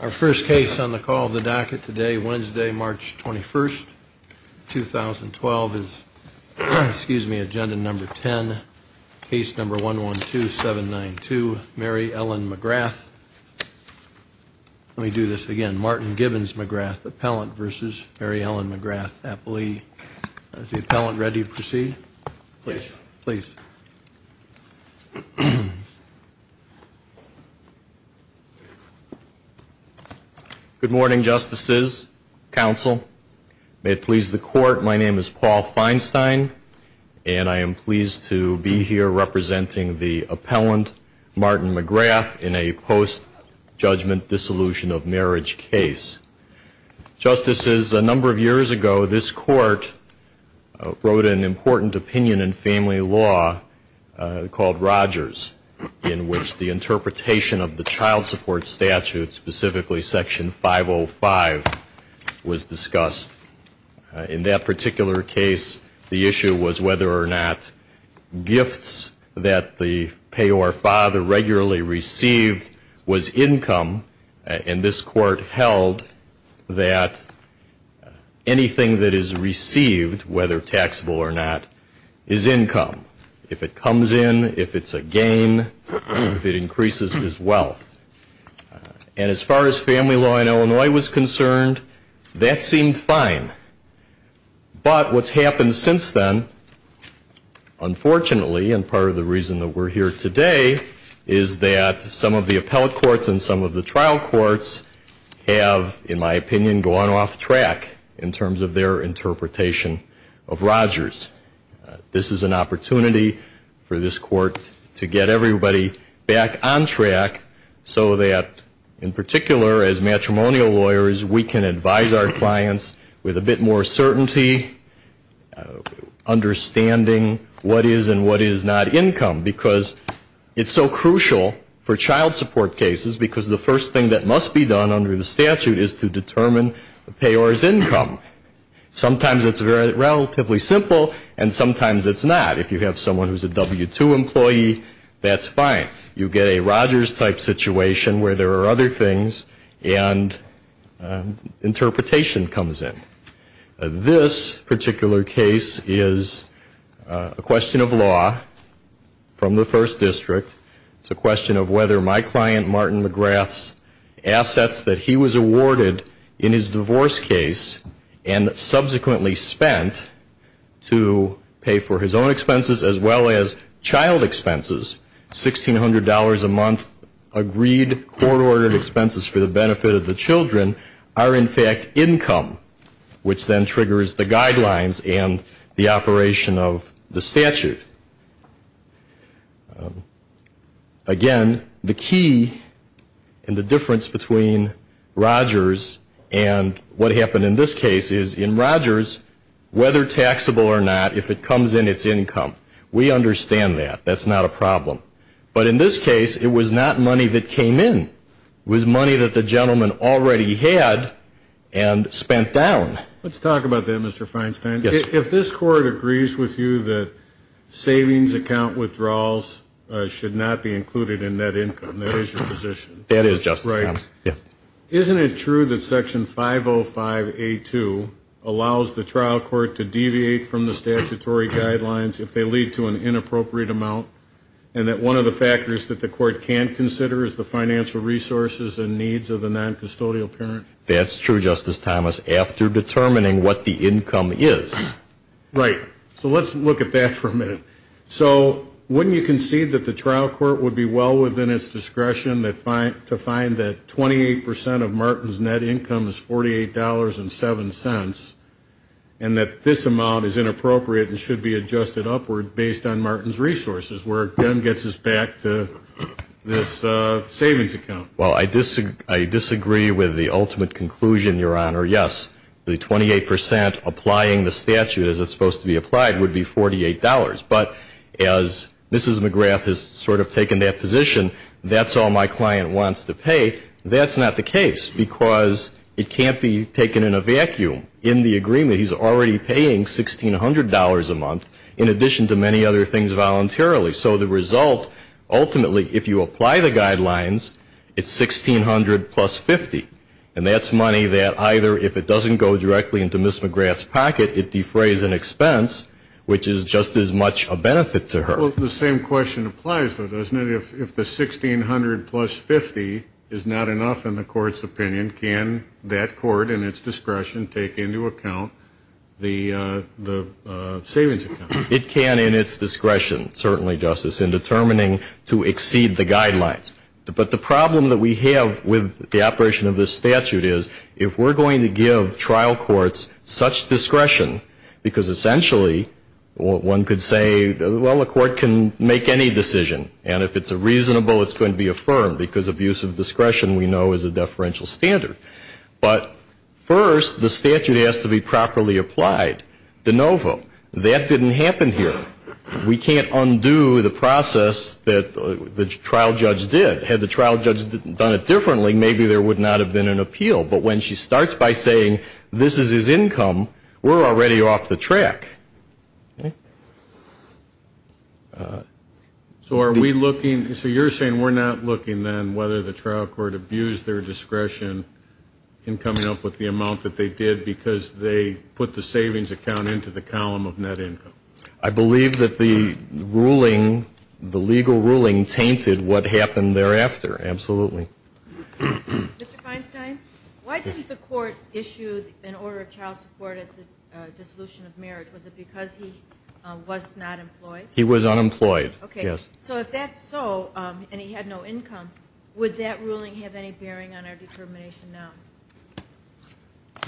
Our first case on the call of the docket today, Wednesday, March 21st, 2012, is agenda number 10, case number 112792, Mary Ellen McGrath. Let me do this again. Martin Gibbons McGrath, appellant, versus Mary Ellen McGrath, appellee. Is the appellant ready to proceed? Please. Paul Feinstein Good morning, justices, counsel. May it please the court, my name is Paul Feinstein, and I am pleased to be here representing the appellant Martin McGrath in a post-judgment dissolution of marriage case. Justices, a number of years ago, this court wrote an important opinion in family law called Rogers, in which the interpretation of the child support statute, specifically section 505, was discussed. In that particular case, the issue was whether or not gifts that the payor father regularly received was income, and this court held that anything that is received, whether taxable or not, is income. If it comes in, if it's a gain, if it increases his wealth. And as far as family law in Illinois was concerned, that seemed fine. But what's the reason that we're here today is that some of the appellate courts and some of the trial courts have, in my opinion, gone off track in terms of their interpretation of Rogers. This is an opportunity for this court to get everybody back on track so that, in particular, as matrimonial lawyers, we can advise our clients with a bit more certainty, understanding what is and what is not income. Because it's so crucial for child support cases because the first thing that must be done under the statute is to determine the payor's income. Sometimes it's relatively simple and sometimes it's not. If you have someone who's a W-2 employee, that's fine. You get a Rogers-type situation where there are other things and interpretation comes in. This particular case is a question of law from the First District. It's a question of whether my client, Martin McGrath's assets that he was awarded in his divorce case and subsequently spent to pay for his own expenses as well as child expenses, $1,600 a month agreed court-ordered expenses for the guidelines and the operation of the statute. Again, the key in the difference between Rogers and what happened in this case is in Rogers, whether taxable or not, if it comes in, it's income. We understand that. That's not a problem. But in this case, it was not money that came in. It was money that the client, Martin McGrath's assets that he was awarded in his divorce case and subsequently spent to pay for his own expenses as well as child expenses. Let's talk about that, Mr. Feinstein. If this Court agrees with you that savings account withdrawals should not be included in net income, that is your position. Right. So let's look at that for a minute. So wouldn't you concede that the trial court would be well within its discretion to find that 28% of Martin's net income is $48.07 and that this amount is inappropriate and should be adjusted upward based on Martin's resources, where it then gets us back to this savings account? Well, I disagree with the ultimate conclusion, Your Honor. Yes, the 28% applying the statute as it's supposed to be applied would be $48. But as Mrs. McGrath has sort of taken that position, that's all my client wants to pay. That's not the case because it can't be taken in a vacuum. In the agreement, he's already paying $1,600 a month in addition to many other things voluntarily. So the result, ultimately, if you apply the guidelines, it's $1,600 plus $50. And that's money that either, if it doesn't go directly into Mrs. McGrath's pocket, it defrays an expense, which is just as much a benefit to her. Well, the same question applies, though, doesn't it? If the $1,600 plus $50 is not enough in the Court's opinion, can that Court in its discretion take into account the savings account? It can in its discretion, certainly, Justice, in determining to exceed the guidelines. But the problem that we have with the operation of this statute is, if we're going to give trial courts such discretion, because essentially, one could say, well, the Court can make any decision. And if it's a reasonable, it's going to be affirmed, because abuse of discretion, we know, is a deferential standard. But first, the statute has to be properly applied. De novo. That didn't happen. It didn't happen in the past. It didn't happen here. We can't undo the process that the trial judge did. Had the trial judge done it differently, maybe there would not have been an appeal. But when she starts by saying, this is his income, we're already off the track. So are we looking, so you're saying we're not looking, then, whether the trial court abused their discretion in coming up with the column of net income? I believe that the ruling, the legal ruling, tainted what happened thereafter, absolutely. Mr. Feinstein, why didn't the Court issue an order of child support at the dissolution of marriage? Was it because he was not employed? He was unemployed, yes. So if that's so, and he had no income, would that ruling have any bearing on our determination now?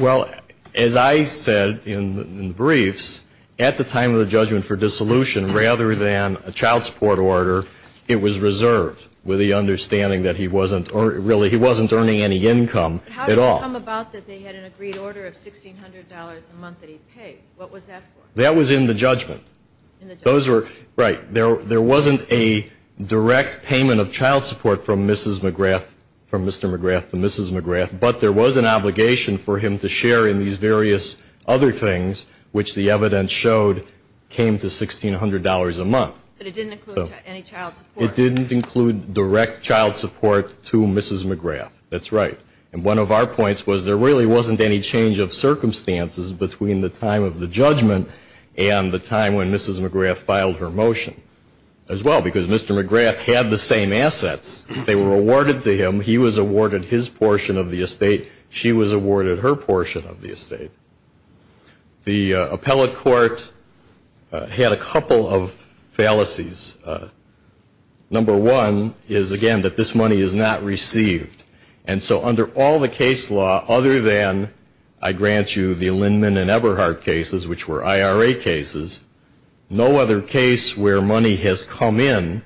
Well, as I said in the briefs, at the time of the judgment for dissolution, rather than a child support order, it was reserved, with the understanding that he wasn't, really, he wasn't earning any income at all. How did it come about that they had an agreed order of $1,600 a month that he paid? What was that for? That was in the judgment. Those were, right, there wasn't a direct payment of child support from Mrs. McGrath, from Mr. McGrath to Mrs. McGrath, but there was an obligation for him to share in these various other things, which the evidence showed came to $1,600 a month. But it didn't include any child support. It didn't include direct child support to Mrs. McGrath. That's right. And one of our points was there really wasn't any change of circumstances and the time when Mrs. McGrath filed her motion, as well, because Mr. McGrath had the same assets. They were awarded to him. He was awarded his portion of the estate. She was awarded her portion of the estate. The appellate court had a couple of fallacies. Number one is, again, that this money is not received. And so under all the case law, other than, I grant you, the Lindman and Eberhardt cases, which were IRA cases, which were IRA cases, no other case where money has come in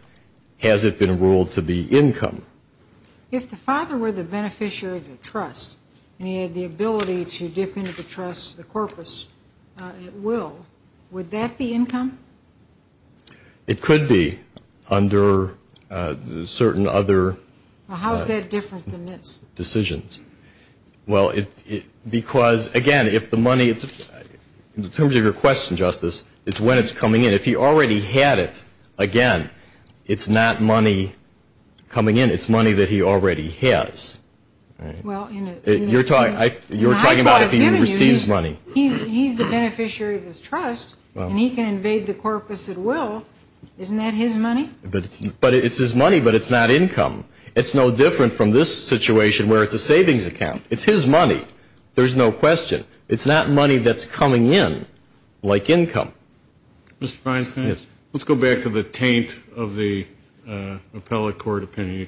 has it been ruled to be income. If the father were the beneficiary of the trust and he had the ability to dip into the trust, the corpus, at will, would that be income? It could be under certain other decisions. Well, because, again, if the money, in terms of your question, Justice, it's when it's coming in. If he already had it, again, it's not money coming in. It's money that he already has. You're talking about if he receives money. He's the beneficiary of the trust and he can invade the corpus at will. Isn't that his money? But it's his money, but it's not income. It's no different from this situation where it's a savings account. It's his money. There's no question. It's not money that's coming in like income. Mr. Feinstein, let's go back to the taint of the appellate court opinion.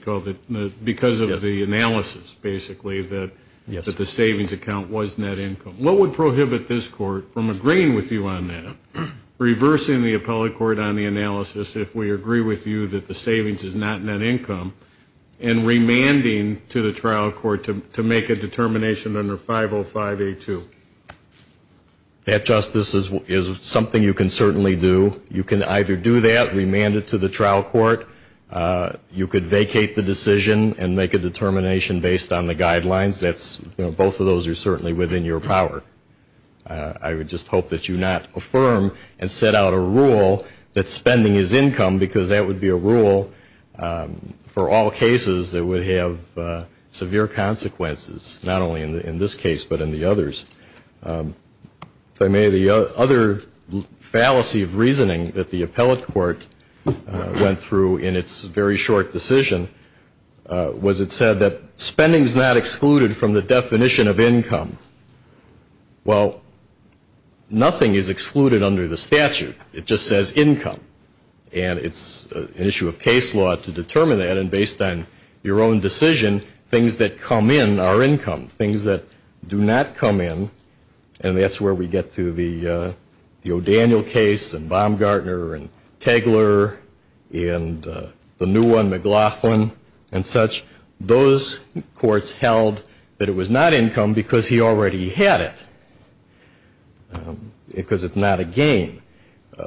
Because of the analysis, basically, that the savings account was net income. What would prohibit this court from agreeing with you on that, reversing the appellate court on the analysis if we agree with you that the savings is not net income, and remanding to the trial court to make a determination under 505A2? That, Justice, is something you can certainly do. You can either do that, remand it to the trial court. You could vacate the decision and make a determination based on the guidelines. That's, you know, both of those are certainly within your power. I would just hope that you not affirm and set out a rule that spending is income, because that would be a rule for all cases that would have severe consequences, not only in this case, but in the others. If I may, the other fallacy of reasoning that the appellate court went through in its very short decision was it said that spending is not excluded from the appellate court. It's excluded from the definition of income. Well, nothing is excluded under the statute. It just says income. And it's an issue of case law to determine that, and based on your own decision, things that come in are income. Things that do not come in, and that's where we get to the O'Daniel case, and Baumgartner, and Tagler, and the new one, McLaughlin, and such. Those courts held that it was not income because he already had it, because it's not a gain.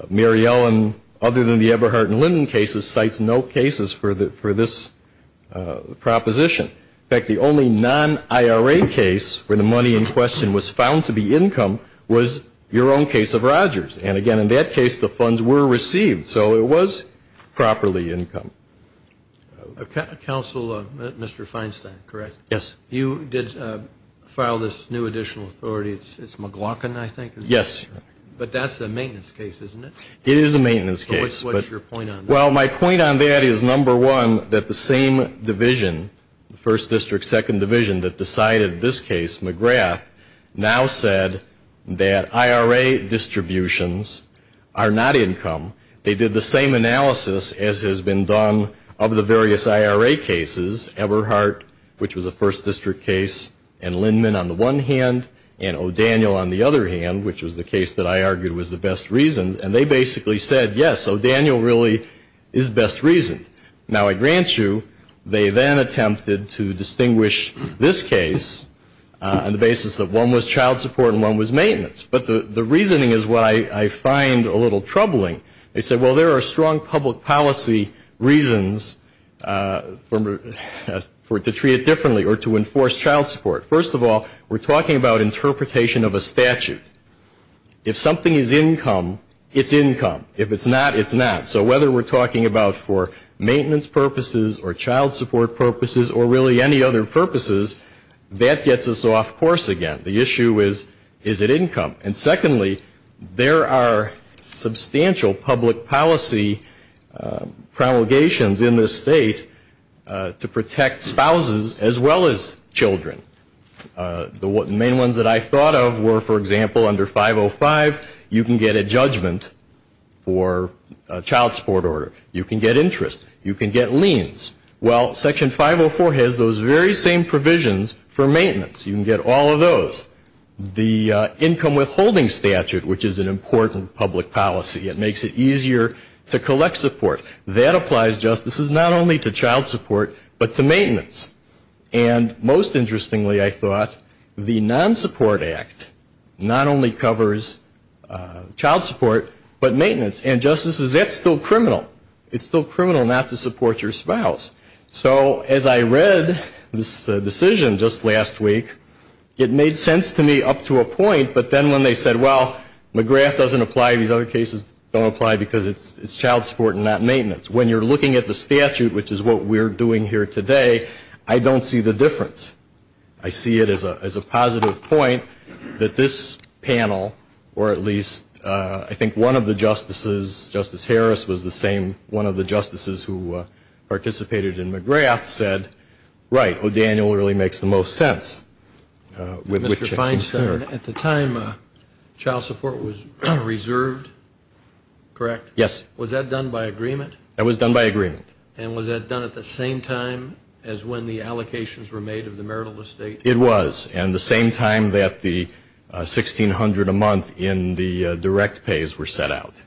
Mary Ellen, other than the Eberhardt and Linden cases, cites no cases for this proposition. In fact, the only non-IRA case where the money in question was found to be income was your own case of Rogers. And again, in that case, the funds were received, so it was properly income. Counsel, Mr. Feinstein, correct? Yes. You did file this new additional authority. It's McLaughlin, I think? Yes. But that's a maintenance case, isn't it? It is a maintenance case. But what's your point on that? Well, my point on that is, number one, that the same division, the 1st District, 2nd Division, that decided this case, McGrath, now said that IRA distributions are not income. They did the same analysis as has been done in other cases. And in fact, of the various IRA cases, Eberhardt, which was a 1st District case, and Linden on the one hand, and O'Daniel on the other hand, which was the case that I argued was the best reason, and they basically said, yes, O'Daniel really is best reasoned. Now, I grant you, they then attempted to distinguish this case on the basis that one was child support and one was maintenance. But the reasoning is what I find a little troubling. They said, well, there are strong public policy reasons to treat it differently or to enforce child support. First of all, we're talking about interpretation of a statute. If something is income, it's income. If it's not, it's not. So whether we're talking about for maintenance purposes or child support purposes or really any other purposes, that gets us off course again. The issue is, is it income? And secondly, there are substantial public policy promulgations in this state to protect spouses as well as children. The main ones that I thought of were, for example, under 505, you can get a judgment for a child support order. You can get interest. You can get liens. Well, Section 504 has those very same provisions for maintenance. You can get all of those. The income withholding statute, which is an important public policy, it makes it easier to collect support. That applies, Justices, not only to child support, but to maintenance. And most interestingly, I thought, the Non-Support Act not only covers child support, but maintenance. And, Justices, that's still criminal. It's still criminal not to support your spouse. So as I read this decision just last week, it made sense to me up to a point. But then when they said, well, McGrath doesn't apply. These other cases don't apply because it's child support and not maintenance. When you're looking at the statute, which is what we're doing here today, I don't see the difference. I see it as a positive point that this panel, or at least I think one of the Justices, Justice Harris was the same, one of the Justices who participated in McGrath said, right, O'Daniel really makes the most sense. Mr. Feinstein, at the time, child support was reserved, correct? Yes. Was that done by agreement? That was done by agreement. And was that done at the same time as when the allocations were made of the marital estate? It was. And the same time that the $1,600 a month in the direct pays were set out.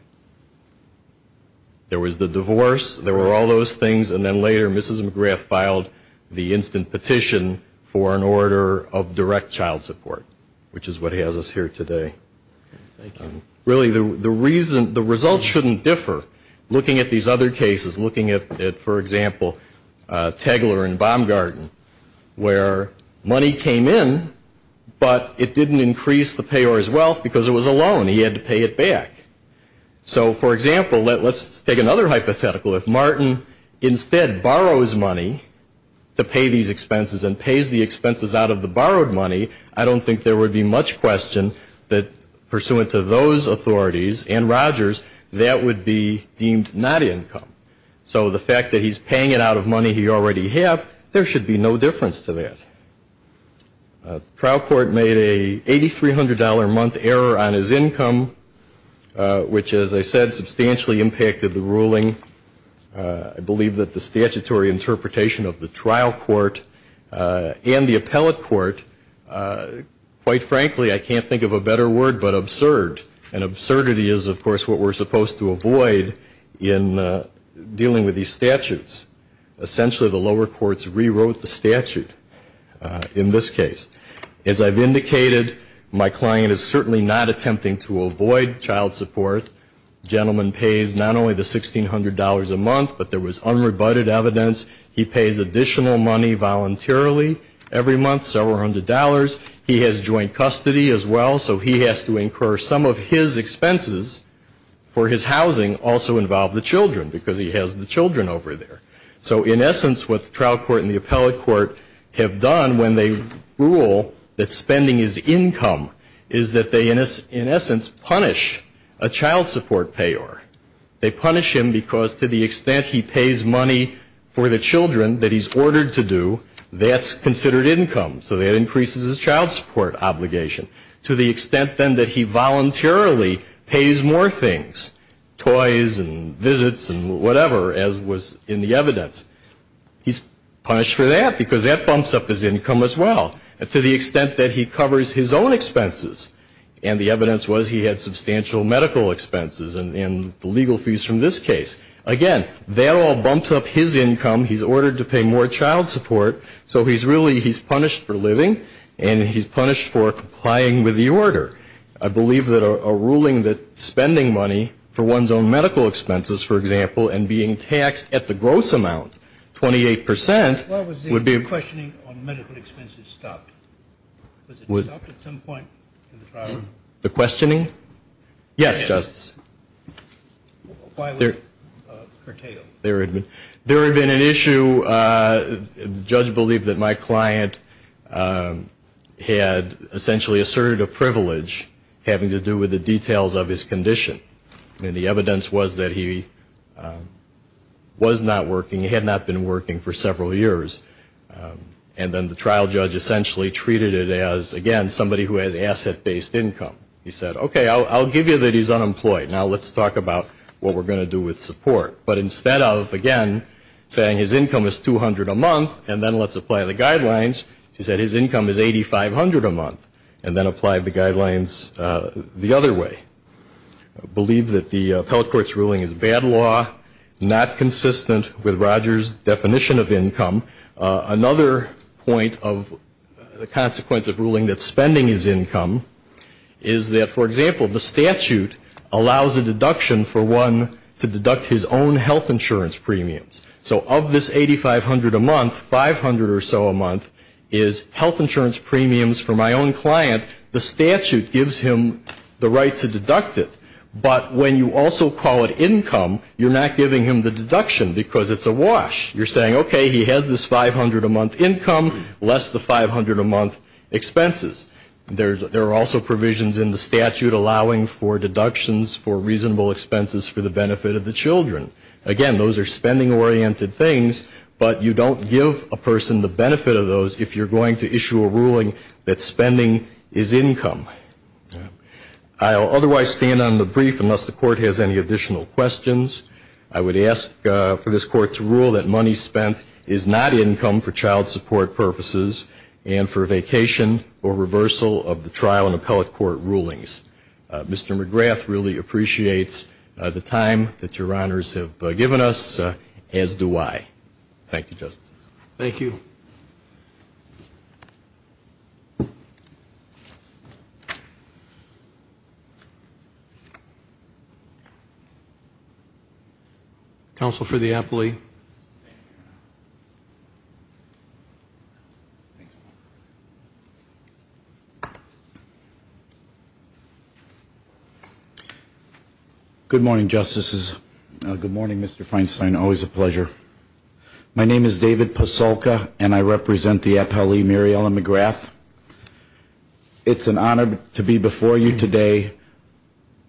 There was the divorce. There were all those things. And then later, Mrs. McGrath filed the instant petition for an order of direct child support, which is what has us here today. Really, the result shouldn't differ. Looking at these other cases, looking at, for example, Tegeler and Baumgarten, where money came in, but it didn't increase the payor's wealth because it was a loan. He had to pay it back. So, for example, let's take another hypothetical. If Martin instead borrows money to pay these expenses and pays the expenses out of the borrowed money, I don't think there would be much question that, pursuant to those authorities and Rogers, that would be deemed not income. So the fact that he's paying it out of money he already have, there should be no difference to that. Trial court made a $8,300 a month error on his income, which, as I said, substantially impacted the ruling. I believe that the statutory interpretation of the trial court and the appellate court, quite frankly, I can't think of a better word but absurd. And absurdity is, of course, what we're supposed to avoid in dealing with these statutes. Essentially, the lower courts rewrote the statute in this case. As I've indicated, my client is certainly not attempting to avoid child support. The gentleman pays not only the $1,600 a month, but there was unrebutted evidence, he pays additional money voluntarily every month, several hundred dollars. He has joint custody as well, so he has to incur some of his expenses for his housing, also involve the children, because he has the children over there. So, in essence, what the trial court and the appellate court have done when they rule that spending is income, is that they, in essence, punish a child support payer. They punish him because to the extent he pays money for the children that he's ordered to do, that's considered income. So that increases his child support obligation. To the extent, then, that he voluntarily pays more things, toys and visits and whatever, as was in the evidence, he's punished for that because that bumps up his income as well. To the extent that he covers his own expenses, and the evidence was he had substantial medical expenses and the legal fees from this case. Again, that all bumps up his income. He's ordered to pay more child support. So he's really, he's punished for living, and he's punished for complying with the order. I believe that a ruling that spending money for one's own medical expenses, for example, and being taxed at the gross amount, 28 percent, would be a questioning on medical expenses stopped. Was it stopped at some point in the trial? The questioning? Yes, Justice. Why was it curtailed? There had been an issue. The judge believed that my client had essentially asserted a privilege having to do with the details of his condition. And the evidence was that he was not working, had not been working for several years. And then the trial judge essentially treated it as, again, somebody who has asset-based income. He said, okay, I'll give you that he's unemployed. Now let's talk about what we're going to do with support. But instead of, again, saying his income is 200 a month, and then let's apply the guidelines, he said his income is 8,500 a month, and then applied the guidelines the other way. I believe that the appellate court's ruling is bad law, not consistent with Rogers' definition of income. Another point of the consequence of ruling that spending is income is that, for example, the statute allows a deduction for one to deduct his own health insurance premiums. So of this 8,500 a month, 500 or so a month is health insurance premiums for my own client. The statute gives him the right to deduct it. But when you also call it income, you're not giving him the deduction because it's a wash. You're saying, okay, he has this 500 a month income, less the 500 a month expenses. There are also provisions in the statute allowing for deductions for reasonable expenses for the benefit of the children. Again, those are spending-oriented things, but you don't give a person the benefit of those if you're going to issue a ruling that spending is income. I'll otherwise stand on the brief unless the Court has any additional questions. I would ask for this Court to rule that money spent is not income for child support purposes and for vacation or reversal of the trial and appellate court rulings. Mr. McGrath really appreciates the time that Your Honors have given us, as do I. Thank you, Justice. Thank you. Thank you. Counsel for the appellee. Good morning, Justices. Good morning, Mr. Feinstein. Always a pleasure. My name is David Pasulka, and I represent the appellee, Mariella McGrath. It's an honor to be before you today,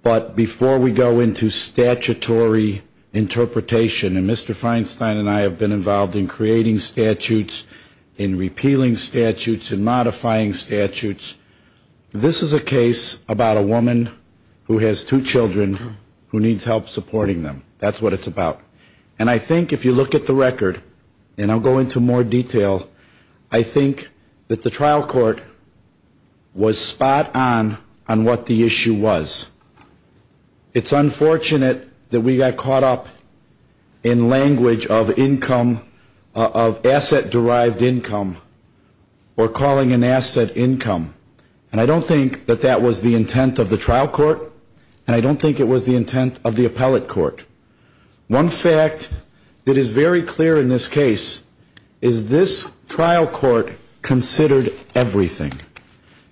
but before we go into statutory interpretation, and Mr. Feinstein and I have been involved in creating statutes, in repealing statutes, in modifying statutes, this is a case about a woman who has two children who needs help supporting them. That's what it's about. And I think if you look at the record, and I'll go into more detail, I think that the trial court was spot on on what the issue was. It's unfortunate that we got caught up in language of income, of asset-derived income, or calling an asset income. And I don't think that that was the intent of the trial court, and I don't think it was the intent of the appellate court. One fact that is very clear in this case is this trial court considered everything,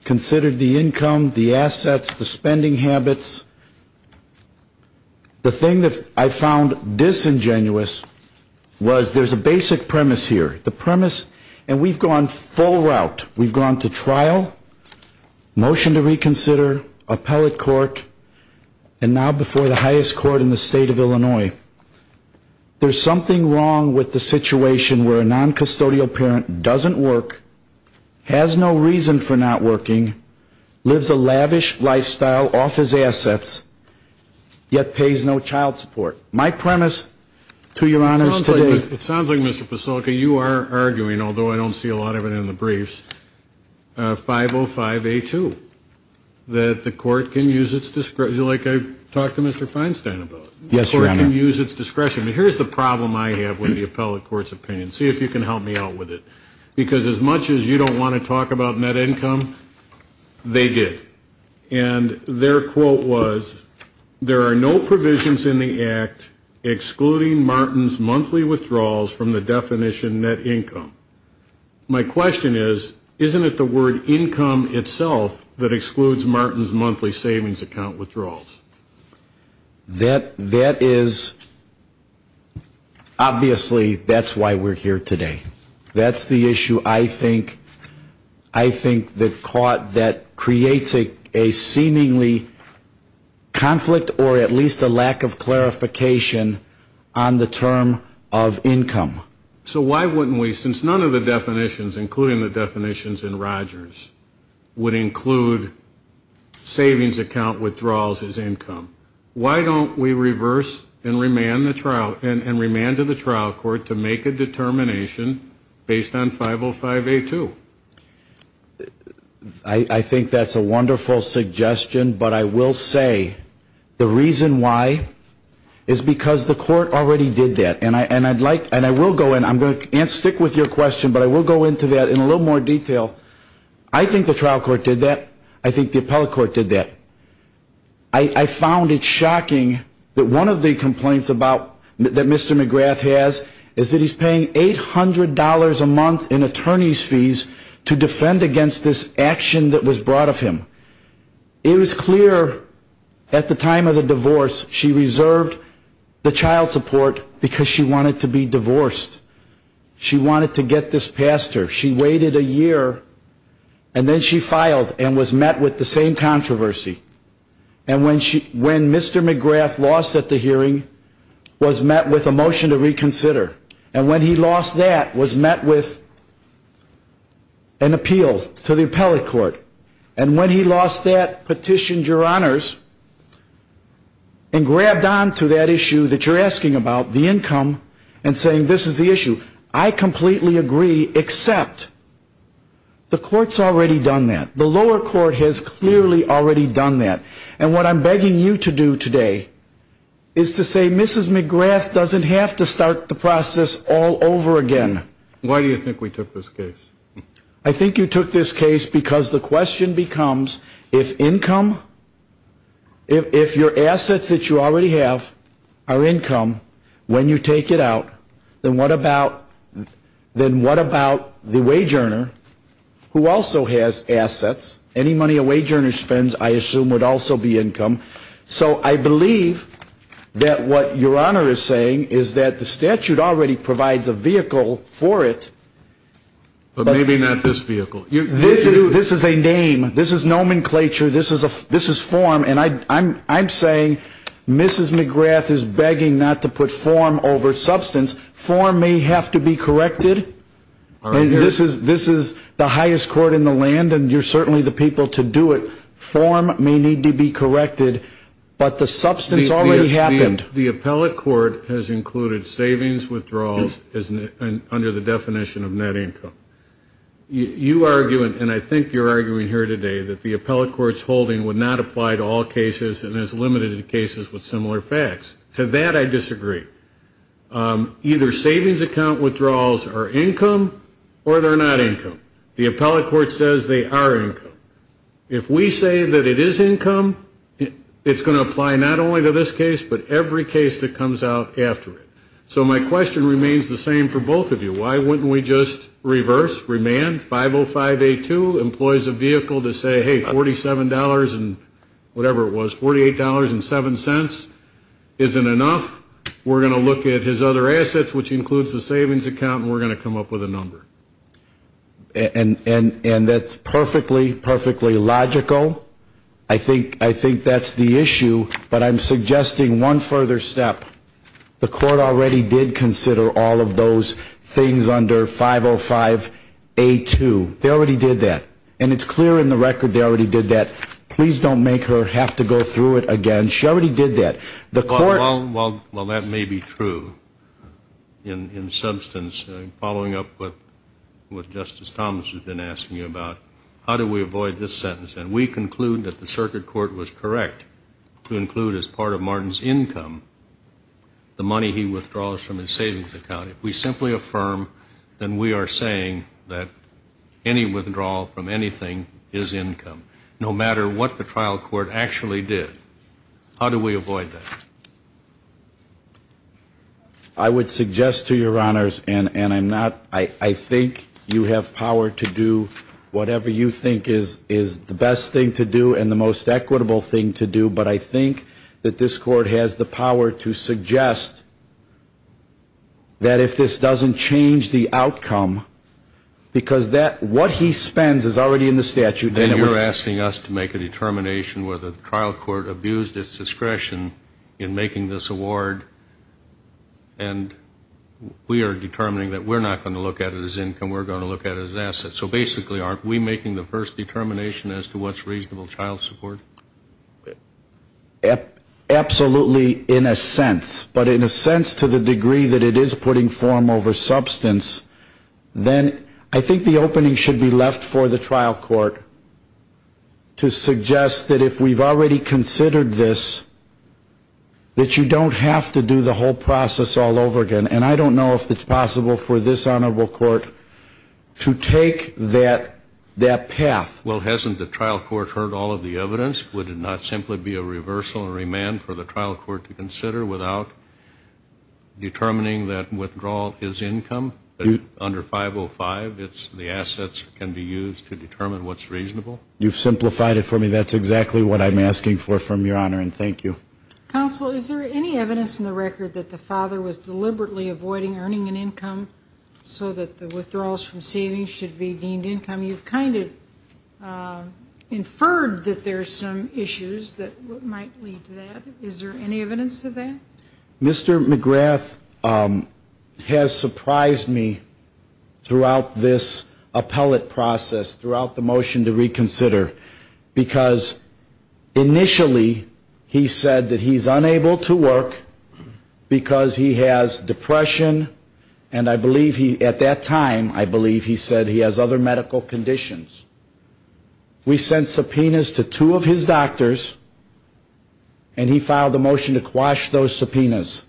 considered the income, the assets, the spending habits. The thing that I found disingenuous was there's a basic premise here. The premise, and we've gone full route. We've gone to trial, motion to reconsider, appellate court, and now before the highest court in the state of Illinois. There's something wrong with the situation where a noncustodial parent doesn't work, has no reason for not working, lives a lavish lifestyle off his assets, yet pays no child support. My premise to your honors today. It sounds like, Mr. Pasolka, you are arguing, although I don't see a lot of it in the briefs, 505A2, that the court can use its discretion, like I talked to Mr. Feinstein about it. The court can use its discretion. But here's the problem I have with the appellate court's opinion. See if you can help me out with it. Because as much as you don't want to talk about net income, they did. And their quote was, there are no provisions in the act excluding Martin's monthly withdrawals from the definition net income. My question is, isn't it the word income itself that excludes Martin's monthly savings account withdrawals? That is, obviously, that's why we're here today. That's the issue I think that creates a seemingly conflict or at least a lack of clarification on the term of income. So why wouldn't we, since none of the definitions, including the definitions in Rogers, would include savings account withdrawals as income, why don't we reverse and remand to the trial court to make a determination based on 505A2? I think that's a wonderful suggestion, but I will say the reason why is because the court already did that. And I will go in, I can't stick with your question, but I will go into that in a little more detail. I think the trial court did that. I think the appellate court did that. I found it shocking that one of the complaints that Mr. McGrath has is that he's paying $800 a month in attorney's fees to defend against this action that was brought of him. It was clear at the time of the divorce she reserved the child support because she wanted to be divorced. She wanted to get this past her. She waited a year and then she filed and was met with the same controversy. And when Mr. McGrath lost at the hearing, was met with a motion to reconsider. And when he lost that, was met with an appeal to the appellate court. And when he lost that, petitioned your honors and grabbed on to that issue that you're asking about, the income, and saying this is the issue. I completely agree, except the court's already done that. The lower court has clearly already done that. And what I'm begging you to do today is to say Mrs. McGrath doesn't have to start the process all over again. Why do you think we took this case? I think you took this case because the question becomes if income, if your assets that you already have are income, when you take it out, then what about the wage earner who also has assets? Any money a wage earner spends, I assume, would also be income. So I believe that what your honor is saying is that the statute already provides a vehicle for it. But maybe not this vehicle. This is a name. This is nomenclature. This is form. And I'm saying Mrs. McGrath is begging not to put form over substance. Form may have to be corrected. This is the highest court in the land, and you're certainly the people to do it. Form may need to be corrected, but the substance already happened. The appellate court has included savings withdrawals under the definition of net income. You argue, and I think you're arguing here today, that the appellate court's holding would not apply to all cases and has limited cases with similar facts. To that I disagree. Either savings account withdrawals are income or they're not income. The appellate court says they are income. If we say that it is income, it's going to apply not only to this case, but every case that comes out after it. So my question remains the same for both of you. Why wouldn't we just reverse, remand, 505A2, employs a vehicle to say, hey, $47 and whatever it was, $48.07 isn't enough. We're going to look at his other assets, which includes the savings account, and we're going to come up with a number. And that's perfectly, perfectly logical. Well, I think that's the issue, but I'm suggesting one further step. The court already did consider all of those things under 505A2. They already did that. And it's clear in the record they already did that. Please don't make her have to go through it again. She already did that. Well, that may be true in substance, following up with what Justice Thomas has been asking you about. How do we avoid this sentence? And we conclude that the circuit court was correct to include as part of Martin's income the money he withdraws from his savings account. If we simply affirm, then we are saying that any withdrawal from anything is income, no matter what the trial court actually did. How do we avoid that? I would suggest to your honors, and I'm not, I think you have power to do whatever you think is the best thing to do and the most equitable thing to do, but I think that this court has the power to suggest that if this doesn't change the outcome, because what he spends is already in the statute. And you're asking us to make a determination whether the trial court abused its discretion in making this award and we are determining that we're not going to look at it as income. We're going to look at it as an asset. So basically aren't we making the first determination as to what's reasonable child support? Absolutely, in a sense. But in a sense to the degree that it is putting form over substance, then I think the opening should be left for the trial court to suggest that if we've already considered this, that you don't have to do the whole process all over again. And I don't know if it's possible for this honorable court to take that path. Well, hasn't the trial court heard all of the evidence? Would it not simply be a reversal or remand for the trial court to consider without determining that withdrawal is income under 505? The assets can be used to determine what's reasonable. You've simplified it for me. That's exactly what I'm asking for from Your Honor, and thank you. Counsel, is there any evidence in the record that the father was deliberately avoiding earning an income so that the withdrawals from savings should be deemed income? You've kind of inferred that there are some issues that might lead to that. Is there any evidence of that? Mr. McGrath has surprised me throughout this appellate process, throughout the motion to reconsider, because initially he said that he's unable to work because he has depression, and I believe he at that time, I believe he said he has other medical conditions. We sent subpoenas to two of his doctors, and he filed a motion to quash those subpoenas.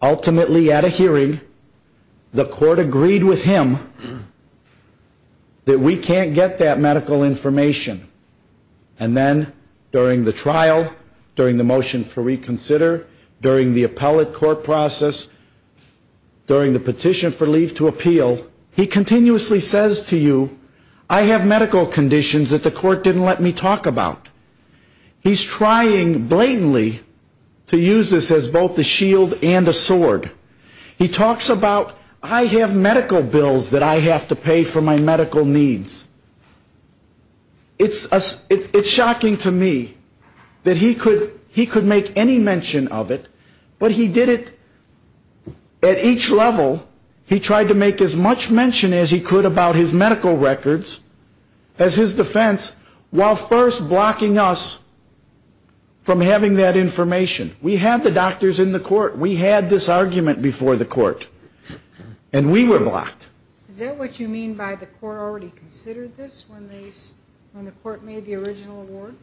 Ultimately, at a hearing, the court agreed with him that we can't get that medical information. And then during the trial, during the motion to reconsider, during the appellate court process, during the petition for leave to appeal, he continuously says to you, I have medical conditions that the court didn't let me talk about. He's trying blatantly to use this as both a shield and a sword. He talks about, I have medical bills that I have to pay for my medical needs. It's shocking to me that he could make any mention of it, but he did it at each level. He tried to make as much mention as he could about his medical records, as his defense, while first blocking us from having that information. We had the doctors in the court. We had this argument before the court, and we were blocked. Is that what you mean by the court already considered this when the court made the original award?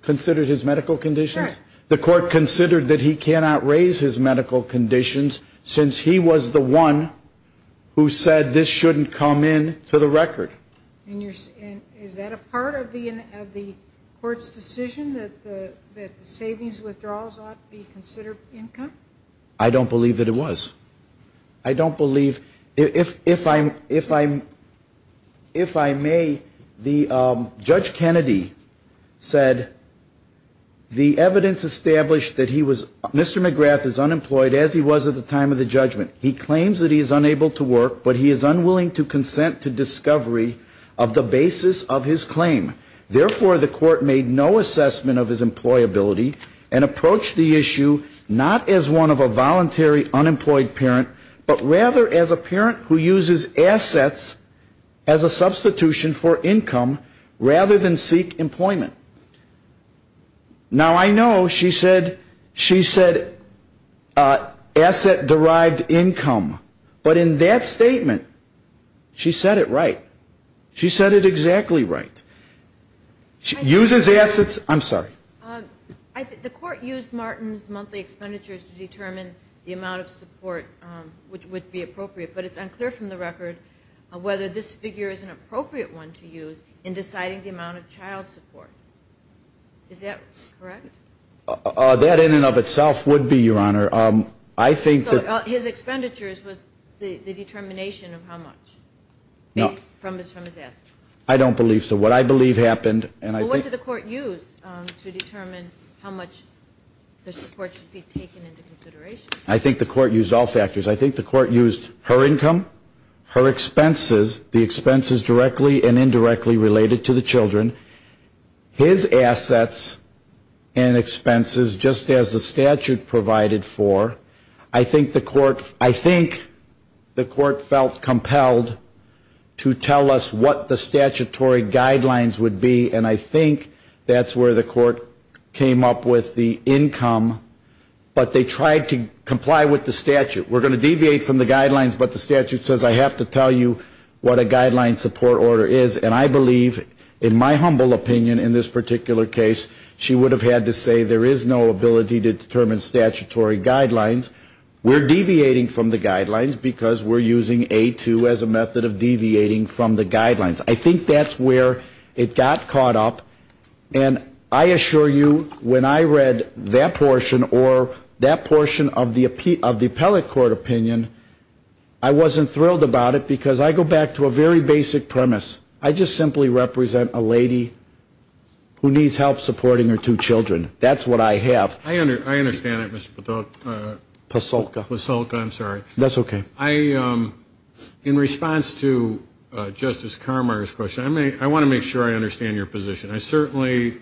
Considered his medical conditions? Correct. The court considered that he cannot raise his medical conditions since he was the one who said this shouldn't come into the record. Is that a part of the court's decision that the savings withdrawals ought to be considered income? I don't believe that it was. I don't believe. If I may, Judge Kennedy said the evidence established that he was, Mr. McGrath is unemployed as he was at the time of the judgment. He claims that he is unable to work, but he is unwilling to consent to discovery of the basis of his claim. Therefore, the court made no assessment of his employability and approached the issue not as one of a voluntary unemployed parent, but rather as a parent who uses assets as a substitution for income rather than seek employment. Now, I know she said asset-derived income, but in that statement she said it right. She said it exactly right. She uses assets. I'm sorry. The court used Martin's monthly expenditures to determine the amount of support which would be appropriate, but it's unclear from the record whether this figure is an appropriate one to use in deciding the amount of child support. Is that correct? That in and of itself would be, Your Honor. So his expenditures was the determination of how much from his assets? I don't believe so. What I believe happened, and I think the court used to determine how much the support should be taken into consideration. I think the court used all factors. I think the court used her income, her expenses, the expenses directly and indirectly related to the children, his assets and expenses just as the statute provided for. I think the court felt compelled to tell us what the statutory guidelines would be, and I think that's where the court came up with the income, but they tried to comply with the statute. We're going to deviate from the guidelines, but the statute says I have to tell you what a guideline support order is, and I believe, in my humble opinion in this particular case, she would have had to say there is no ability to determine statutory guidelines. We're deviating from the guidelines because we're using A2 as a method of deviating from the guidelines. I think that's where it got caught up, and I assure you when I read that portion or that portion of the appellate court opinion, I wasn't thrilled about it because I go back to a very basic premise. I just simply represent a lady who needs help supporting her two children. That's what I have. I understand that, Mr. Pasulka. Pasulka. Pasulka, I'm sorry. That's okay. In response to Justice Carmeier's question, I want to make sure I understand your position. I certainly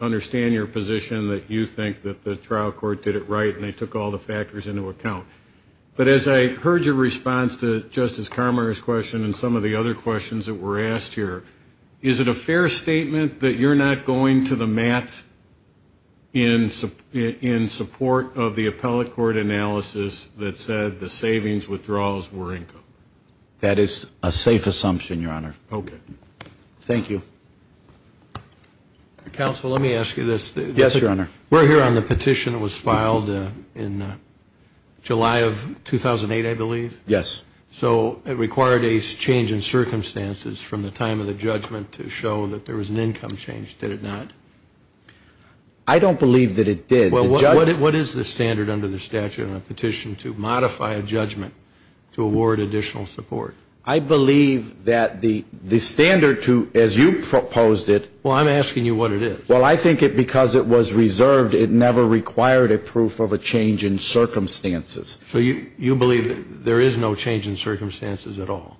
understand your position that you think that the trial court did it right and they took all the factors into account, but as I heard your response to Justice Carmeier's question and some of the other questions that were asked here, is it a fair statement that you're not going to the mat in support of the appellate court analysis that said the savings withdrawals were income? That is a safe assumption, Your Honor. Okay. Thank you. Counsel, let me ask you this. Yes, Your Honor. We're here on the petition that was filed in July of 2008, I believe. Yes. So it required a change in circumstances from the time of the judgment to show that there was an income change. Did it not? I don't believe that it did. Well, what is the standard under the statute on a petition to modify a judgment to award additional support? I believe that the standard to, as you proposed it. Well, I'm asking you what it is. Well, I think because it was reserved, it never required a proof of a change in circumstances. So you believe that there is no change in circumstances at all?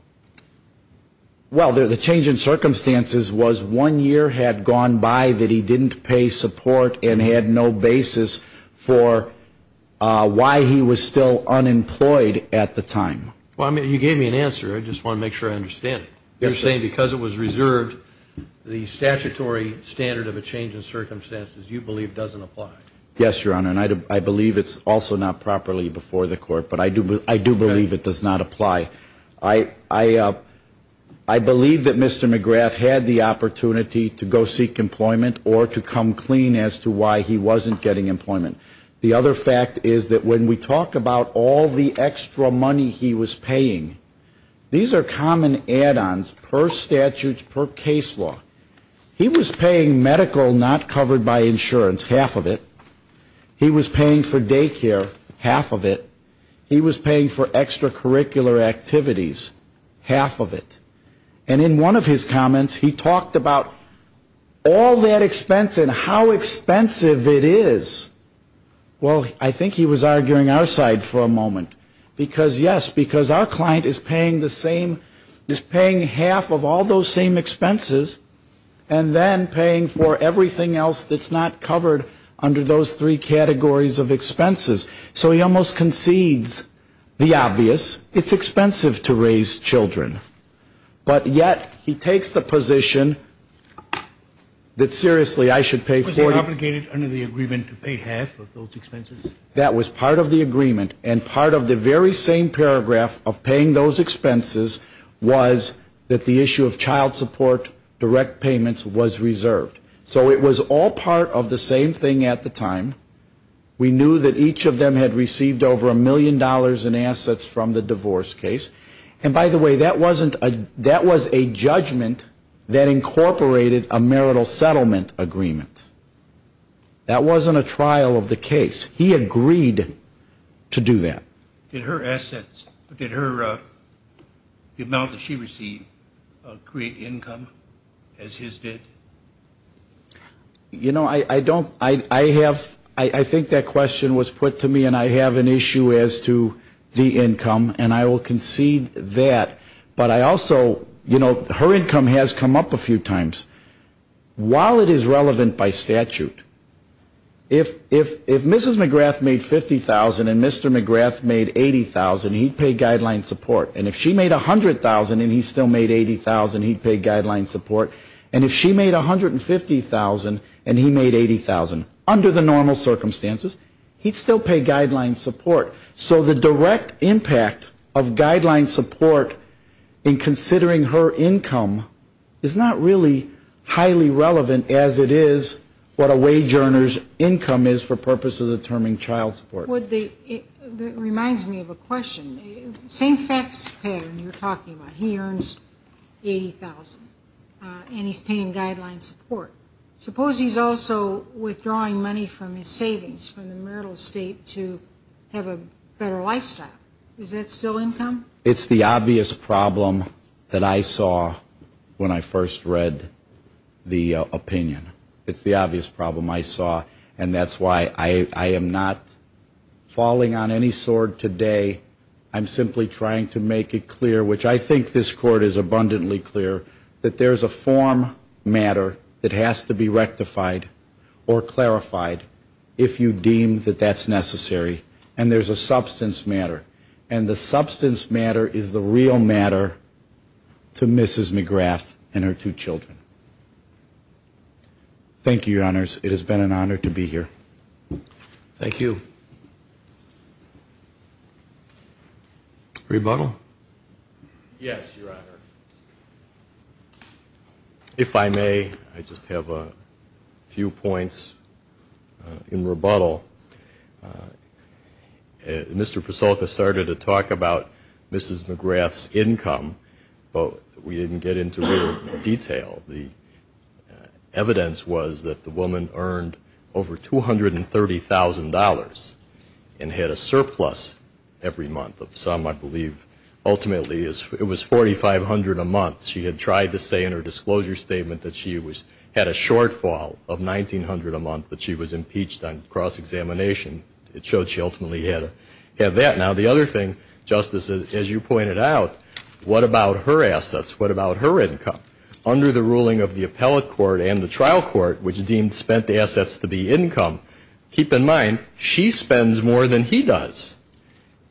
Well, the change in circumstances was one year had gone by that he didn't pay support and had no basis for why he was still unemployed at the time. Well, I mean, you gave me an answer. I just want to make sure I understand it. You're saying because it was reserved, the statutory standard of a change in circumstances you believe doesn't apply? Yes, Your Honor, and I believe it's also not properly before the court, but I do believe it does not apply. I believe that Mr. McGrath had the opportunity to go seek employment or to come clean as to why he wasn't getting employment. The other fact is that when we talk about all the extra money he was paying, these are common add-ons per statute, per case law. He was paying medical not covered by insurance, half of it. He was paying for daycare, half of it. He was paying for extracurricular activities, half of it. And in one of his comments, he talked about all that expense and how expensive it is. Well, I think he was arguing our side for a moment because, yes, because our client is paying half of all those same expenses and then paying for everything else that's not covered under those three categories of expenses. So he almost concedes the obvious. It's expensive to raise children, but yet he takes the position that, seriously, I should pay 40. Was he obligated under the agreement to pay half of those expenses? That was part of the agreement, and part of the very same paragraph of paying those expenses was that the issue of child support direct payments was reserved. So it was all part of the same thing at the time. We knew that each of them had received over a million dollars in assets from the divorce case. And, by the way, that was a judgment that incorporated a marital settlement agreement. That wasn't a trial of the case. He agreed to do that. Did her assets, did the amount that she received create income as his did? You know, I don't, I have, I think that question was put to me, and I have an issue as to the income, and I will concede that. But I also, you know, her income has come up a few times. While it is relevant by statute, if Mrs. McGrath made $50,000 and Mr. McGrath made $80,000, he'd pay guideline support. And if she made $100,000 and he still made $80,000, he'd pay guideline support. And if she made $150,000 and he made $80,000, under the normal circumstances, he'd still pay guideline support. So the direct impact of guideline support in considering her income is not really highly relevant as it is what a wage earner's income is for purposes of determining child support. It reminds me of a question. Same fax pattern you were talking about. He earns $80,000, and he's paying guideline support. Suppose he's also withdrawing money from his savings from the marital estate to have a better lifestyle. Is that still income? It's the obvious problem that I saw when I first read the opinion. It's the obvious problem I saw. And that's why I am not falling on any sword today. I'm simply trying to make it clear, which I think this Court is abundantly clear, that there's a form matter that has to be rectified or clarified if you deem that that's necessary. And there's a substance matter. And the substance matter is the real matter to Mrs. McGrath and her two children. Thank you, Your Honors. It has been an honor to be here. Thank you. Rebuttal? Yes, Your Honor. If I may, I just have a few points in rebuttal. Mr. Persolka started to talk about Mrs. McGrath's income, but we didn't get into real detail. The evidence was that the woman earned over $230,000 and had a surplus every month of some, I believe, ultimately it was $4,500 a month. She had tried to say in her disclosure statement that she had a shortfall of $1,900 a month, but she was impeached on cross-examination. It showed she ultimately had that. Now, the other thing, Justice, as you pointed out, what about her assets? What about her income? Under the ruling of the appellate court and the trial court, which deemed spent assets to be income, keep in mind she spends more than he does.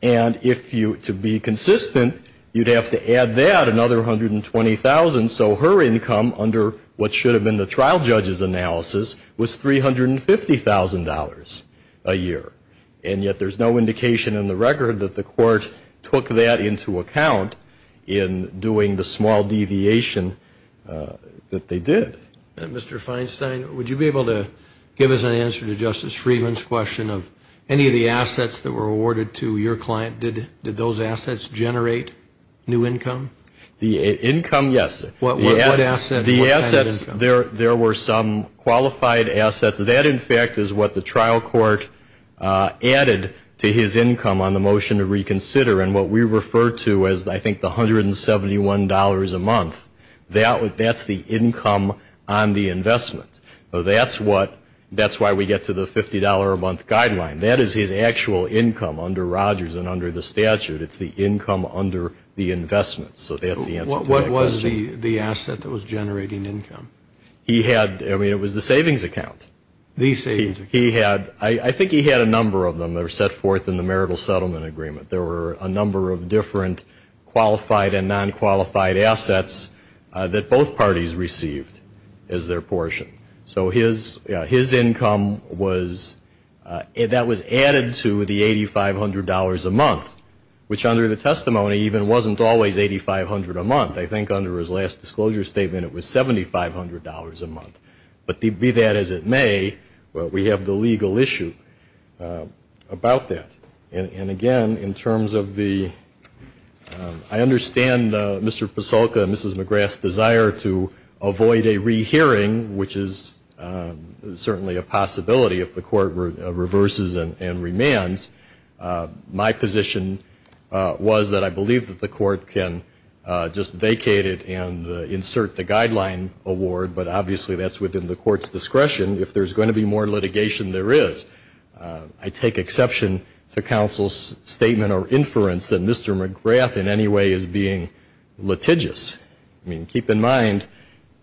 And if you, to be consistent, you'd have to add that, another $120,000, so her income under what should have been the trial judge's analysis was $350,000 a year. And yet there's no indication in the record that the court took that into account in doing the small deviation that they did. Mr. Feinstein, would you be able to give us an answer to Justice Friedman's question of any of the assets that were awarded to your client, did those assets generate new income? The income, yes. What assets? The assets, there were some qualified assets. That, in fact, is what the trial court added to his income on the motion to reconsider. And what we refer to as, I think, the $171 a month, that's the income on the investment. That's why we get to the $50 a month guideline. That is his actual income under Rogers and under the statute. It's the income under the investment. So that's the answer to that question. What was the asset that was generating income? He had, I mean, it was the savings account. The savings account. He had, I think he had a number of them that were set forth in the marital settlement agreement. There were a number of different qualified and non-qualified assets that both parties received as their portion. So his income was, that was added to the $8,500 a month, which under the testimony even wasn't always $8,500 a month. I think under his last disclosure statement it was $7,500 a month. But be that as it may, we have the legal issue about that. And, again, in terms of the, I understand Mr. Pasolka and Mrs. McGrath's desire to avoid a rehearing, which is certainly a possibility if the court reverses and remands. My position was that I believe that the court can just vacate it and insert the guideline award, but obviously that's within the court's discretion. If there's going to be more litigation, there is. I take exception to counsel's statement or inference that Mr. McGrath in any way is being litigious. I mean, keep in mind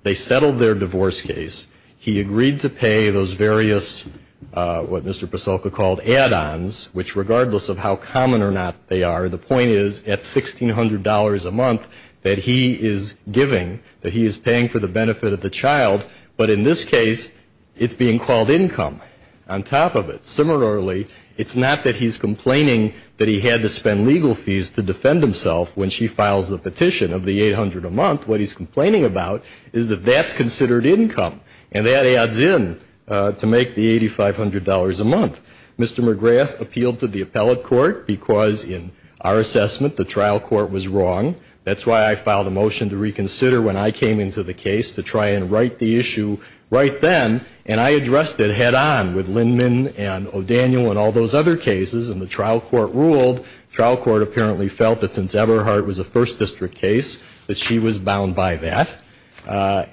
they settled their divorce case. He agreed to pay those various, what Mr. Pasolka called add-ons, which regardless of how common or not they are, the point is at $1,600 a month that he is giving, that he is paying for the benefit of the child, but in this case it's being called income on top of it. Similarly, it's not that he's complaining that he had to spend legal fees to defend himself when she files the petition of the $800 a month. What he's complaining about is that that's considered income, and that adds in to make the $8,500 a month. Mr. McGrath appealed to the appellate court because in our assessment the trial court was wrong. That's why I filed a motion to reconsider when I came into the case to try and write the issue right then, and I addressed it head on with Lindman and O'Daniel and all those other cases, and the trial court ruled. The trial court apparently felt that since Eberhardt was a First District case, that she was bound by that.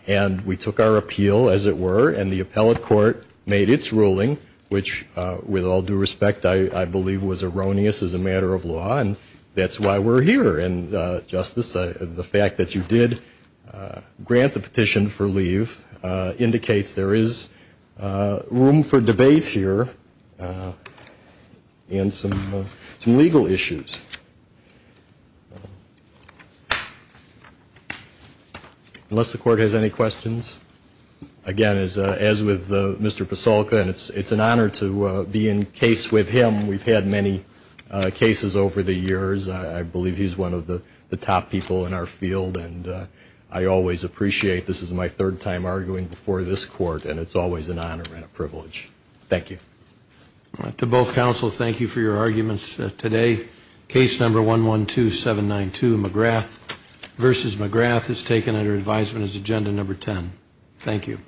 And we took our appeal, as it were, and the appellate court made its ruling, which with all due respect I believe was erroneous as a matter of law, and that's why we're here. And, Justice, the fact that you did grant the petition for leave indicates there is room for debate here and some legal issues, unless the court has any questions. Again, as with Mr. Pasolka, and it's an honor to be in case with him. We've had many cases over the years. I believe he's one of the top people in our field, and I always appreciate this is my third time arguing before this court, and it's always an honor and a privilege. Thank you. To both counsel, thank you for your arguments today. Case number 112792, McGrath v. McGrath, is taken under advisement as agenda number 10. Thank you.